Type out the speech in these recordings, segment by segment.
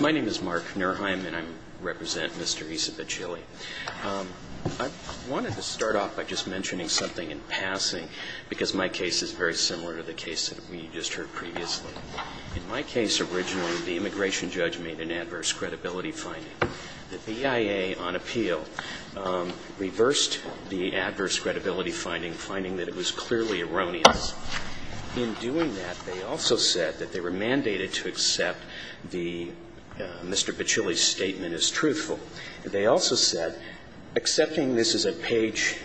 My name is Mark Nurheim and I represent Mr. Issa Bacilli. I wanted to start off by just mentioning something in passing because my case is very similar to the case that we just heard previously. In my case, originally, the immigration judge made an adverse credibility finding. The BIA on appeal reversed the adverse credibility finding, finding that it was clearly erroneous. In doing that, they also said that they were mandated to accept Mr. Bacilli's statement as truthful. They also said, accepting this as a page,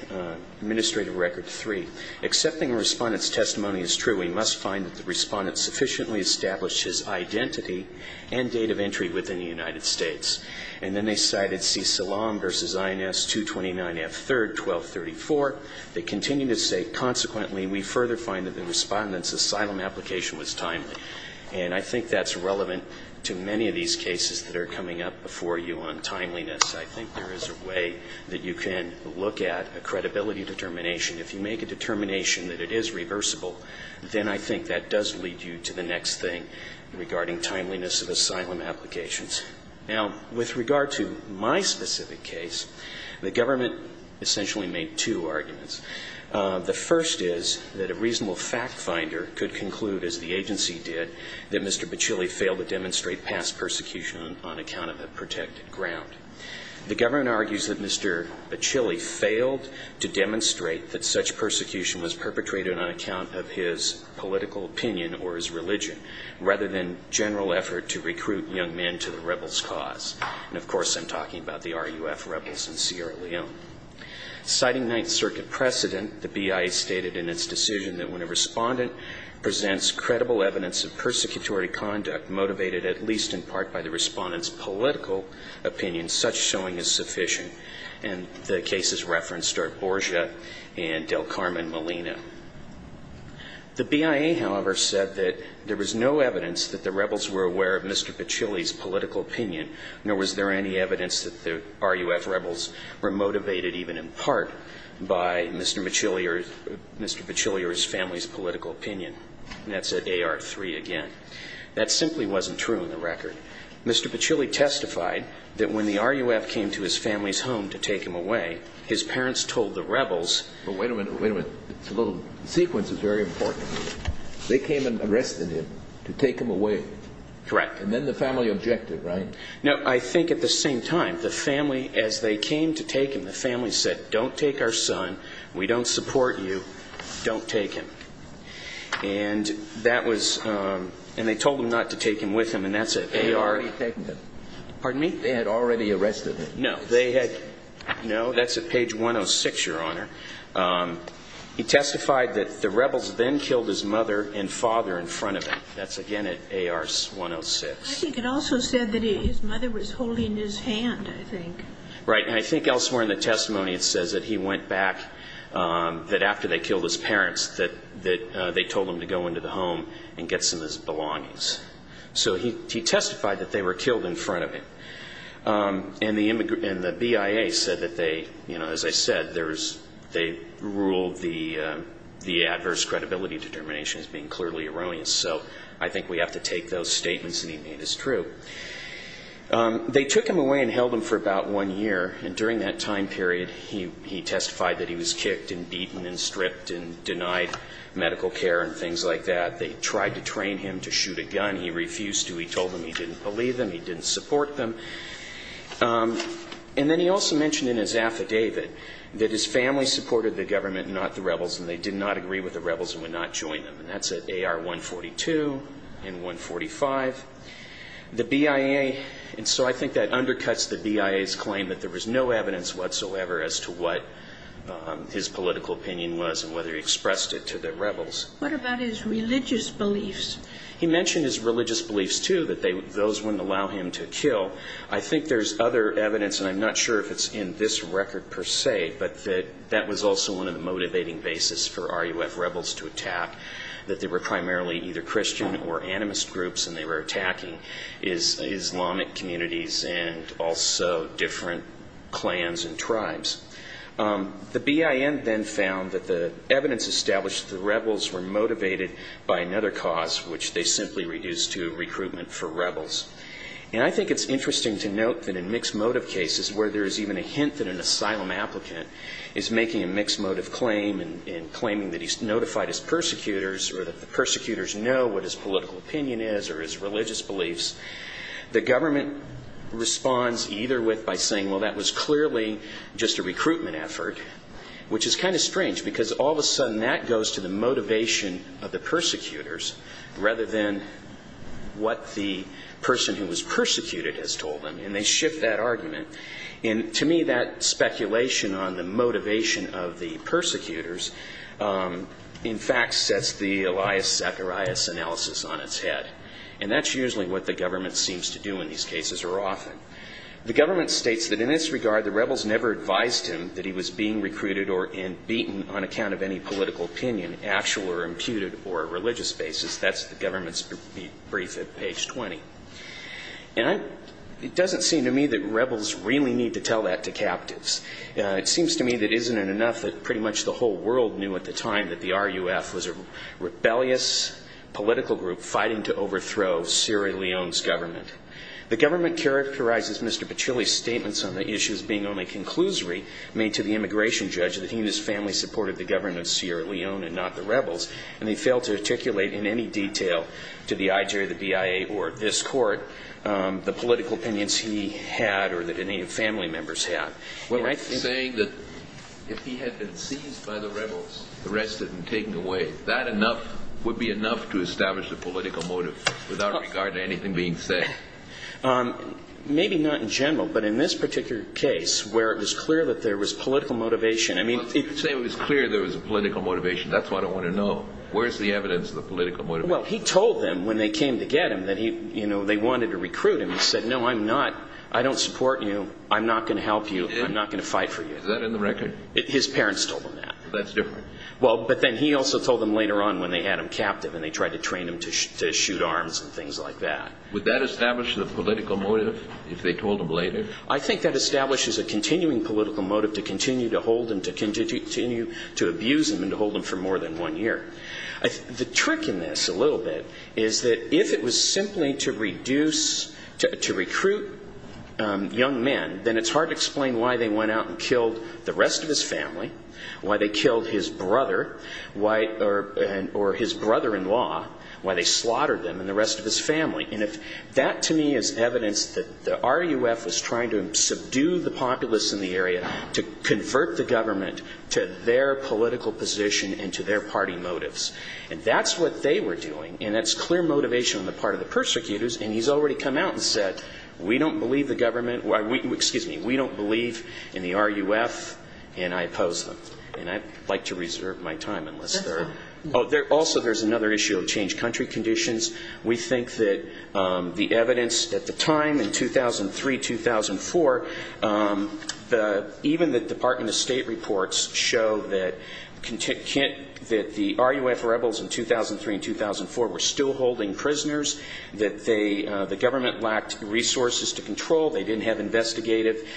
Administrative Record 3, accepting a respondent's testimony as true, we must find that the respondent sufficiently established his identity and date of entry within the United States. And then they cited C. Salam v. INS 229F3RD 1234. They continue to say, consequently, we further find that the respondent's asylum application was timely. And I think that's relevant to many of these cases that are coming up before you on timeliness. I think there is a way that you can look at a credibility determination. If you make a determination that it is reversible, then I think that does lead you to the next thing regarding timeliness of asylum applications. Now, with regard to my specific case, the government essentially made two arguments. The first is that a reasonable fact finder could conclude, as the agency did, that Mr. Bacilli failed to demonstrate past persecution on account of a protected ground. The government argues that Mr. Bacilli failed to demonstrate that such persecution was perpetrated on account of his political opinion or his religion, rather than general effort to recruit young men to the rebels' cause. And, of course, I'm talking about the RUF rebels in Sierra Leone. Citing Ninth Circuit precedent, the BIA stated in its decision that when a respondent presents credible evidence of persecutory conduct motivated at least in part by the respondent's political opinion, such showing is sufficient. And the cases referenced are Carmen Molina. The BIA, however, said that there was no evidence that the rebels were aware of Mr. Bacilli's political opinion, nor was there any evidence that the RUF rebels were motivated even in part by Mr. Bacilli or his family's political opinion. And that's at AR-3 again. That simply wasn't true in the record. Mr. Bacilli testified that when the RUF came to his family's home to take him away, his parents told the rebels Wait a minute. Wait a minute. It's a little sequence. It's very important. They came and arrested him to take him away. Correct. And then the family objected, right? No. I think at the same time, the family, as they came to take him, the family said, don't take our son. We don't support you. Don't take him. And that was and they told him not to take him with him. And that's at AR- They had already taken him. Pardon me? They had already arrested him. No, they had. No, that's at page 106, Your Honor. He testified that the rebels then killed his mother and father in front of him. That's again at AR-106. I think it also said that his mother was holding his hand, I think. Right. And I think elsewhere in the testimony, it says that he went back, that after they killed his parents, that they told him to go into the home and get some of his belongings. So he testified that they were killed in front of him. And the BIA said that they, as I said, they ruled the adverse credibility determination as being clearly erroneous. So I think we have to take those statements that he made as true. They took him away and held him for about one year. And during that time period, he testified that he was kicked and beaten and stripped and denied medical care and things like that. They tried to train him to shoot a gun. He refused to. He told them he didn't believe them. He didn't support them. And then he also mentioned in his affidavit that his family supported the government and not the rebels, and they did not agree with the rebels and would not join them. And that's at AR-142 and 145. The BIA, and so I think that undercuts the BIA's claim that there was no evidence whatsoever as to what his political opinion was and whether he expressed it to the rebels. What about his religious beliefs? He mentioned his religious beliefs, too, that those wouldn't allow him to kill. I think there's other evidence, and I'm not sure if it's in this record per se, but that was also one of the motivating bases for RUF rebels to attack, that they were primarily either Christian or animist groups, and they were attacking Islamic communities and also different clans and tribes. The BIN then found that the evidence established that the rebels were motivated by another cause, which they simply reduced to recruitment for rebels. And I think it's interesting to note that in mixed motive cases where there's even a hint that an asylum applicant is making a mixed motive claim and claiming that he's notified his persecutors or that the persecutors know what his political opinion is or his religious beliefs, the government responds either with by saying, well, that was clearly just a recruitment effort, which is kind of strange because all of a sudden that goes to the motivation of the persecutors rather than what the person who was persecuted has told them, and they shift that argument. And to me, that speculation on the motivation of the persecutors, in fact, sets the Elias Zacharias analysis on its head. And that's usually what the government seems to do in these cases or often. The government states that in this regard, the rebels never advised him that he was being recruited or beaten on account of any political opinion, actual or imputed, or a religious basis. That's the government's brief at page 20. And it doesn't seem to me that rebels really need to tell that to captives. It seems to me that isn't it enough that pretty much the whole world knew at the time that the RUF was a rebellious political group fighting to overthrow Sierra Leone's government. The government characterizes Mr. Pachilli's statements on the issue as being only a conclusory made to the immigration judge that he and his family supported the government of Sierra Leone and not the rebels, and they failed to articulate in any detail to the IJ or the BIA or this court the political opinions he had or that any of the family members had. You're saying that if he had been seized by the rebels, arrested, and taken away, that enough would be enough to establish a political motive without regard to anything being said? Maybe not in general, but in this particular case, where it was clear that there was political motivation, I mean... You say it was clear there was a political motivation. That's what I want to know. Where's the evidence of the political motivation? Well, he told them when they came to get him that he, you know, they wanted to recruit him. He said, no, I'm not. I don't support you. I'm not going to help you. I'm not going to fight for you. Is that in the record? His parents told him that. That's different. Well, but then he also told them later on when they had him captive and they tried to train him to shoot arms and things like that. Would that establish the political motive if they told him later? I think that establishes a continuing political motive to continue to hold him, to continue to abuse him, and to hold him for more than one year. The trick in this a little bit is that if it was simply to reduce, to recruit young men, then it's hard to explain why they went out and killed the rest of his family, why they killed his brother, or his brother-in-law, why they slaughtered them and the rest of his family. And if that, to me, is evidence that the RUF was trying to subdue the populace in the area to convert the government to their political position and to their party motives. And that's what they were doing. And that's clear motivation on the part of the persecutors. And he's already come out and said, we don't believe the government, excuse me, we don't believe in the RUF, and I oppose them. And I'd like to reserve my time unless there are, oh, also there's another issue of changed country conditions. We think that the evidence at the time in 2003, 2004, even the Department of State reports show that the RUF rebels in 2003 and 2004 were still holding prisoners, that they, the government lacked resources to control, they didn't have investigative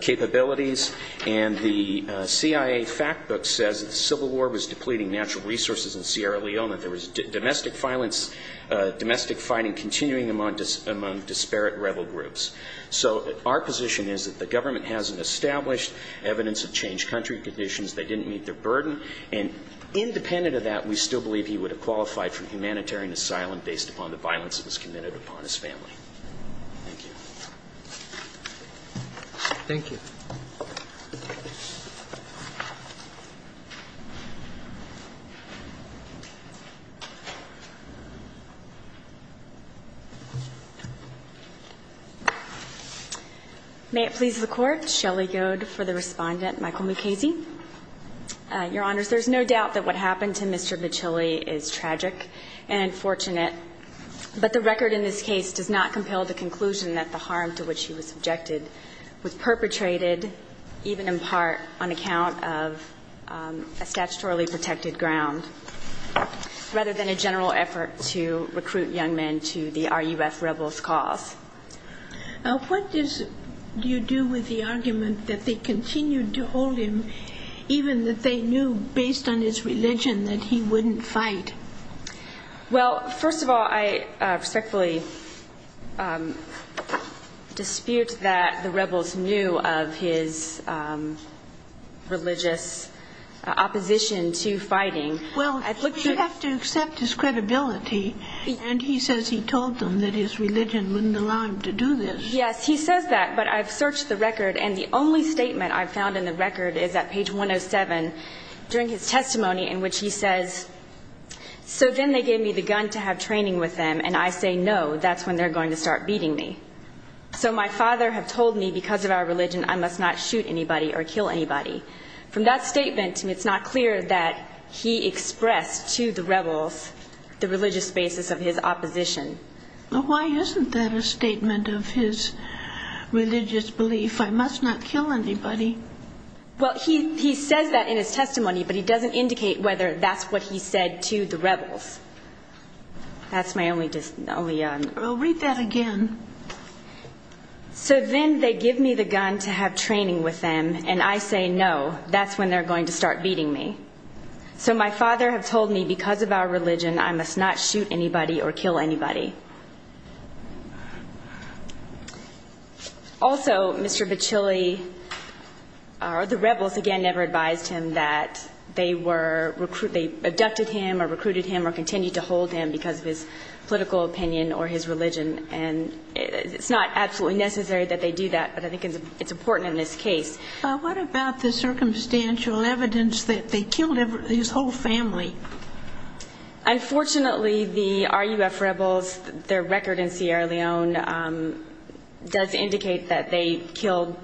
capabilities. And the CIA fact book says that the Civil War was depleting natural resources in Sierra Leone. There was domestic violence, domestic fighting continuing among disparate rebel groups. So our position is that the government hasn't established evidence of changed country conditions. They didn't meet their burden. And independent of that, we still believe he would have qualified for humanitarian asylum based upon the violence that was committed upon his family. Thank you. May it please the Court. Shelly Goad for the Respondent. Michael Mukasey. Your Honors, there's no doubt that what happened to Mr. Michelli is tragic and unfortunate, but the record in this case does not compel the conclusion that the harm to which he was subjected was perpetrated even in part on account of a statutorily protected ground, rather than a general effort to recruit young men to the RUF rebels' cause. Now, what do you do with the argument that they continued to hold him, even that they knew based on his religion that he wouldn't fight? Well, first of all, I respectfully dispute that the rebels knew of his religious opposition to fighting. Well, you have to accept his credibility. And he says he told them that his religion wouldn't allow him to do this. Yes, he says that, but I've searched the record, and the only statement I've found in the record is at page 107 during his testimony in which he says, So my father have told me because of our religion I must not shoot anybody or kill anybody. From that statement, it's not clear that he expressed to the rebels the religious basis of his opposition. Well, why isn't that a statement of his religious belief, I must not kill anybody? Well, he says that in his testimony, but he doesn't indicate whether that's what he said to the rebels. That's my only... I'll read that again. So then they give me the gun to have training with them, and I say no, that's when they're going to start beating me. Also, Mr. Bacilli, the rebels, again, never advised him that they were, they abducted him or recruited him or continued to hold him because of his political opinion or his religion. And it's not absolutely necessary that they do that, but I think it's important in this case. What about the circumstantial evidence that they killed his whole family? Unfortunately, the RUF rebels, their record in Sierra Leone does indicate that they killed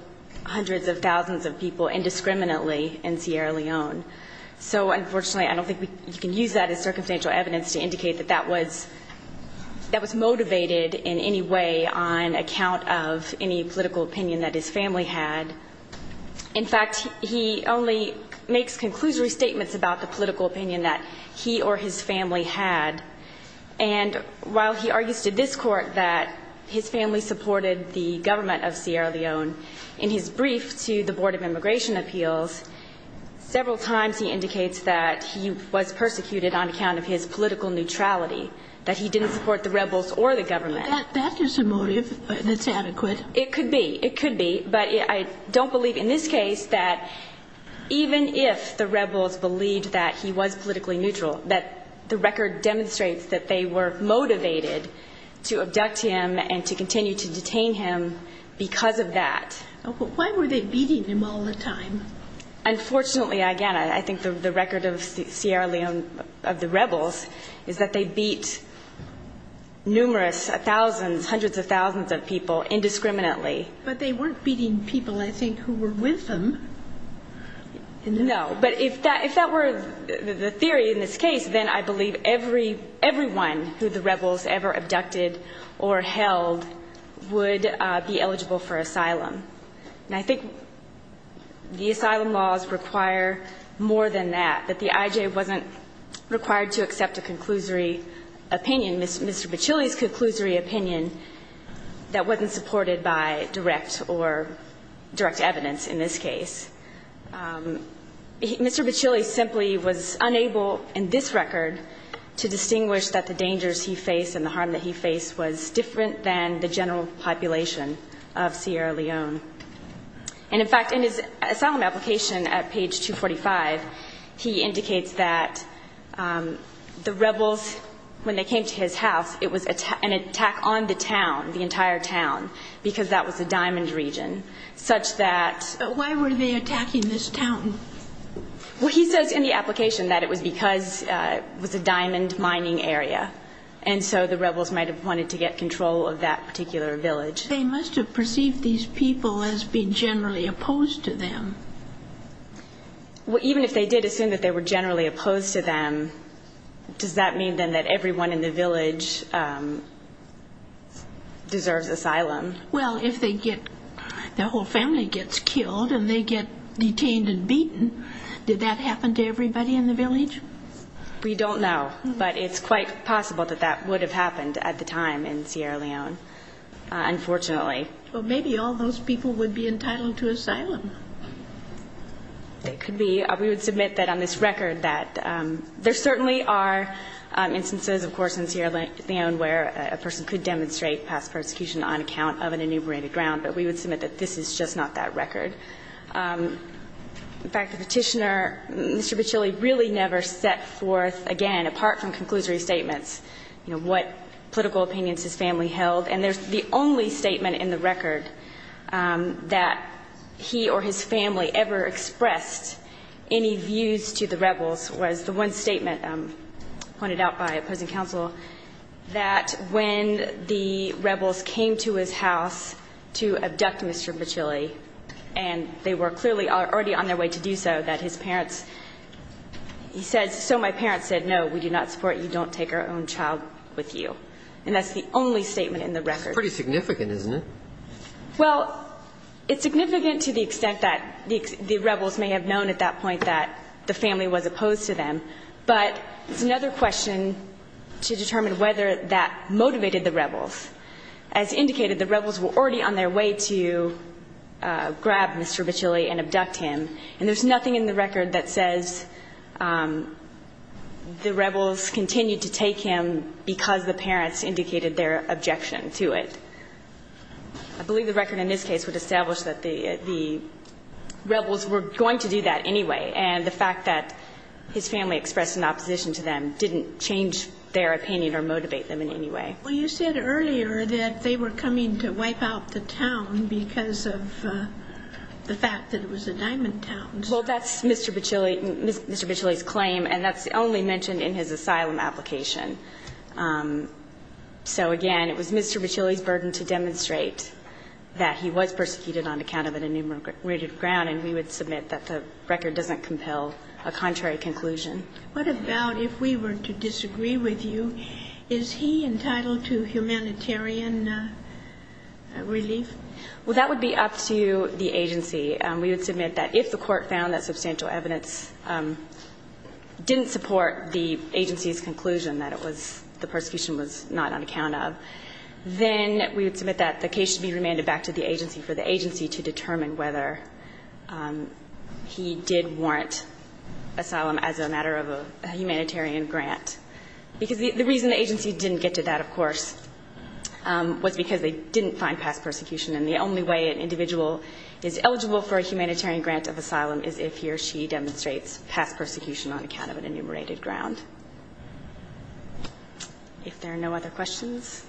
hundreds of thousands of people indiscriminately in Sierra Leone. So unfortunately, I don't think you can use that as circumstantial evidence to indicate that that was motivated in any way on account of any political opinion that his family had. In fact, he only makes conclusory statements about the political opinion that he or his family had. And while he argues to this Court that his family supported the government of Sierra Leone, in his brief to the Board of Immigration Appeals, several times he indicates that he was persecuted on account of his political neutrality, that he didn't support the rebels or the government. That's a motive that's adequate. It could be. It could be. But I don't believe in this case that even if the rebels believed that he was politically neutral, that the record demonstrates that they were motivated to abduct him and to continue to detain him because of that. But why were they beating him all the time? Unfortunately, again, I think the record of Sierra Leone, of the rebels, is that they beat numerous, thousands of people indiscriminately. But they weren't beating people, I think, who were with them. No. But if that were the theory in this case, then I believe everyone who the rebels ever abducted or held would be eligible for asylum. And I think the asylum laws require more than that, that the I.J. wasn't required to accept a conclusory opinion that wasn't supported by direct or direct evidence in this case. Mr. Bacilli simply was unable in this record to distinguish that the dangers he faced and the harm that he faced was different than the general population of Sierra Leone. And, in fact, in his asylum application at page 245, he indicates that the rebels, when they came to his house, it was an attack on the town, the entire town, because that was a diamond region, such that... But why were they attacking this town? Well, he says in the application that it was because it was a diamond mining area, and so the rebels might have wanted to get control of that particular village. They must have perceived these people as being generally opposed to them. Even if they did assume that they were generally opposed to them, does that mean, then, that everyone in the village deserves asylum? Well, if their whole family gets killed and they get detained and beaten, did that happen to everybody in the village? We don't know, but it's quite possible that that would have happened at the time in Sierra Leone, unfortunately. But maybe all those people would be entitled to asylum. They could be. We would submit that on this record that there certainly are instances, of course, in Sierra Leone where a person could demonstrate past persecution on account of an enumerated ground, but we would submit that this is just not that record. In fact, the Petitioner, Mr. Pichilli, really never set forth, again, apart from conclusory statements, you know, what political opinions his family held. And the only statement in the record that he or his family ever expressed any views to the rebels was the one statement pointed out by opposing counsel that when the rebels came to his house to abduct Mr. Pichilli, and they were clearly already on their way to do so, that his parents, he said, so my parents said, no, we do not support you. We don't take our own child with you. And that's the only statement in the record. It's pretty significant, isn't it? Well, it's significant to the extent that the rebels may have known at that point that the family was opposed to them, but it's another question to determine whether that motivated the rebels. As indicated, the rebels were already on their way to grab Mr. Pichilli and abduct him, and there's nothing in the record that says the rebels continued to take him because the parents indicated their objection to it. I believe the record in this case would establish that the rebels were going to do that anyway, and the fact that his family expressed an opposition to them didn't change their opinion or motivate them in any way. Well, you said earlier that they were coming to wipe out the town because of the fact that it was a diamond town. Well, that's Mr. Pichilli's claim, and that's only mentioned in his asylum application. So, again, it was Mr. Pichilli's burden to demonstrate that he was persecuted on account of an enumerated ground, and we would submit that the record doesn't compel a contrary conclusion. What about if we were to disagree with you? Is he entitled to humanitarian relief? Well, that would be up to the agency. We would submit that if the court found that substantial evidence didn't support the agency's conclusion that it was the persecution was not on account of, then we would submit that the case should be remanded back to the agency for the agency to determine whether he did warrant asylum as a matter of a humanitarian grant. Because the reason the agency didn't get to that, of course, was because they didn't find past persecution, and the only way an individual is eligible for a humanitarian grant of asylum is if he or she demonstrates past persecution on account of an enumerated ground. If there are no other questions,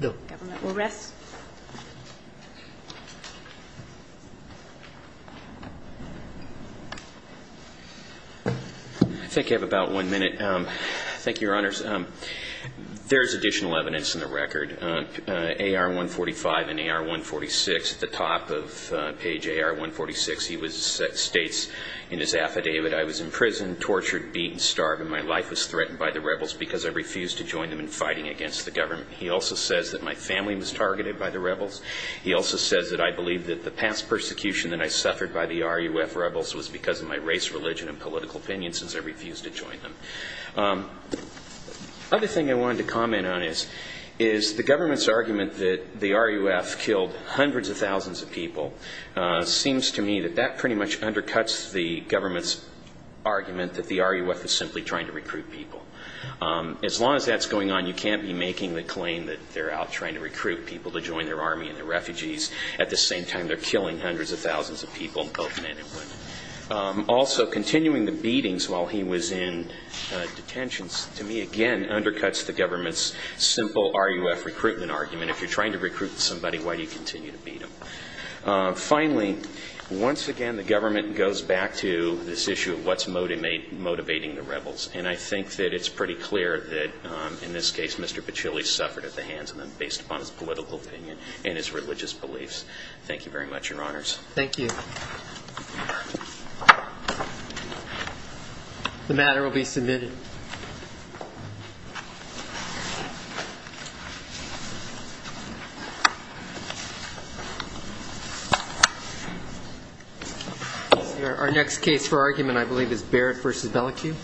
the government will rest. I think I have about one minute. Thank you, Your Honors. There is additional evidence in the record, AR-145 and AR-146. At the top of page AR-146, he states in his affidavit, I was imprisoned, tortured, beaten, starved, and my life was threatened by the rebels because I refused to join them in fighting against the government. He also says that I believe that the past persecution that I suffered by the RUF rebels was because of my race, religion, and political opinion, since I refused to join them. Another thing I wanted to comment on is the government's argument that the RUF killed hundreds of thousands of people seems to me that that pretty much undercuts the government's argument that the RUF is simply trying to recruit people. As long as that's going on, you can't be making the claim that they're out trying to recruit people to join their army and their refugees at the same time they're killing hundreds of thousands of people, both men and women. Also, continuing the beatings while he was in detention, to me, again, undercuts the government's simple RUF recruitment argument. If you're trying to recruit somebody, why do you continue to beat them? Finally, once again, the government goes back to this issue of what's motivating the rebels. And I think that it's pretty clear that, in this case, Mr. Pichilli suffered at the hands of them based upon his political opinion and his religious beliefs. Thank you very much, Your Honors. Thank you. The matter will be submitted. Our next case for argument, I believe, is Barrett v. Bellicue. Thank you.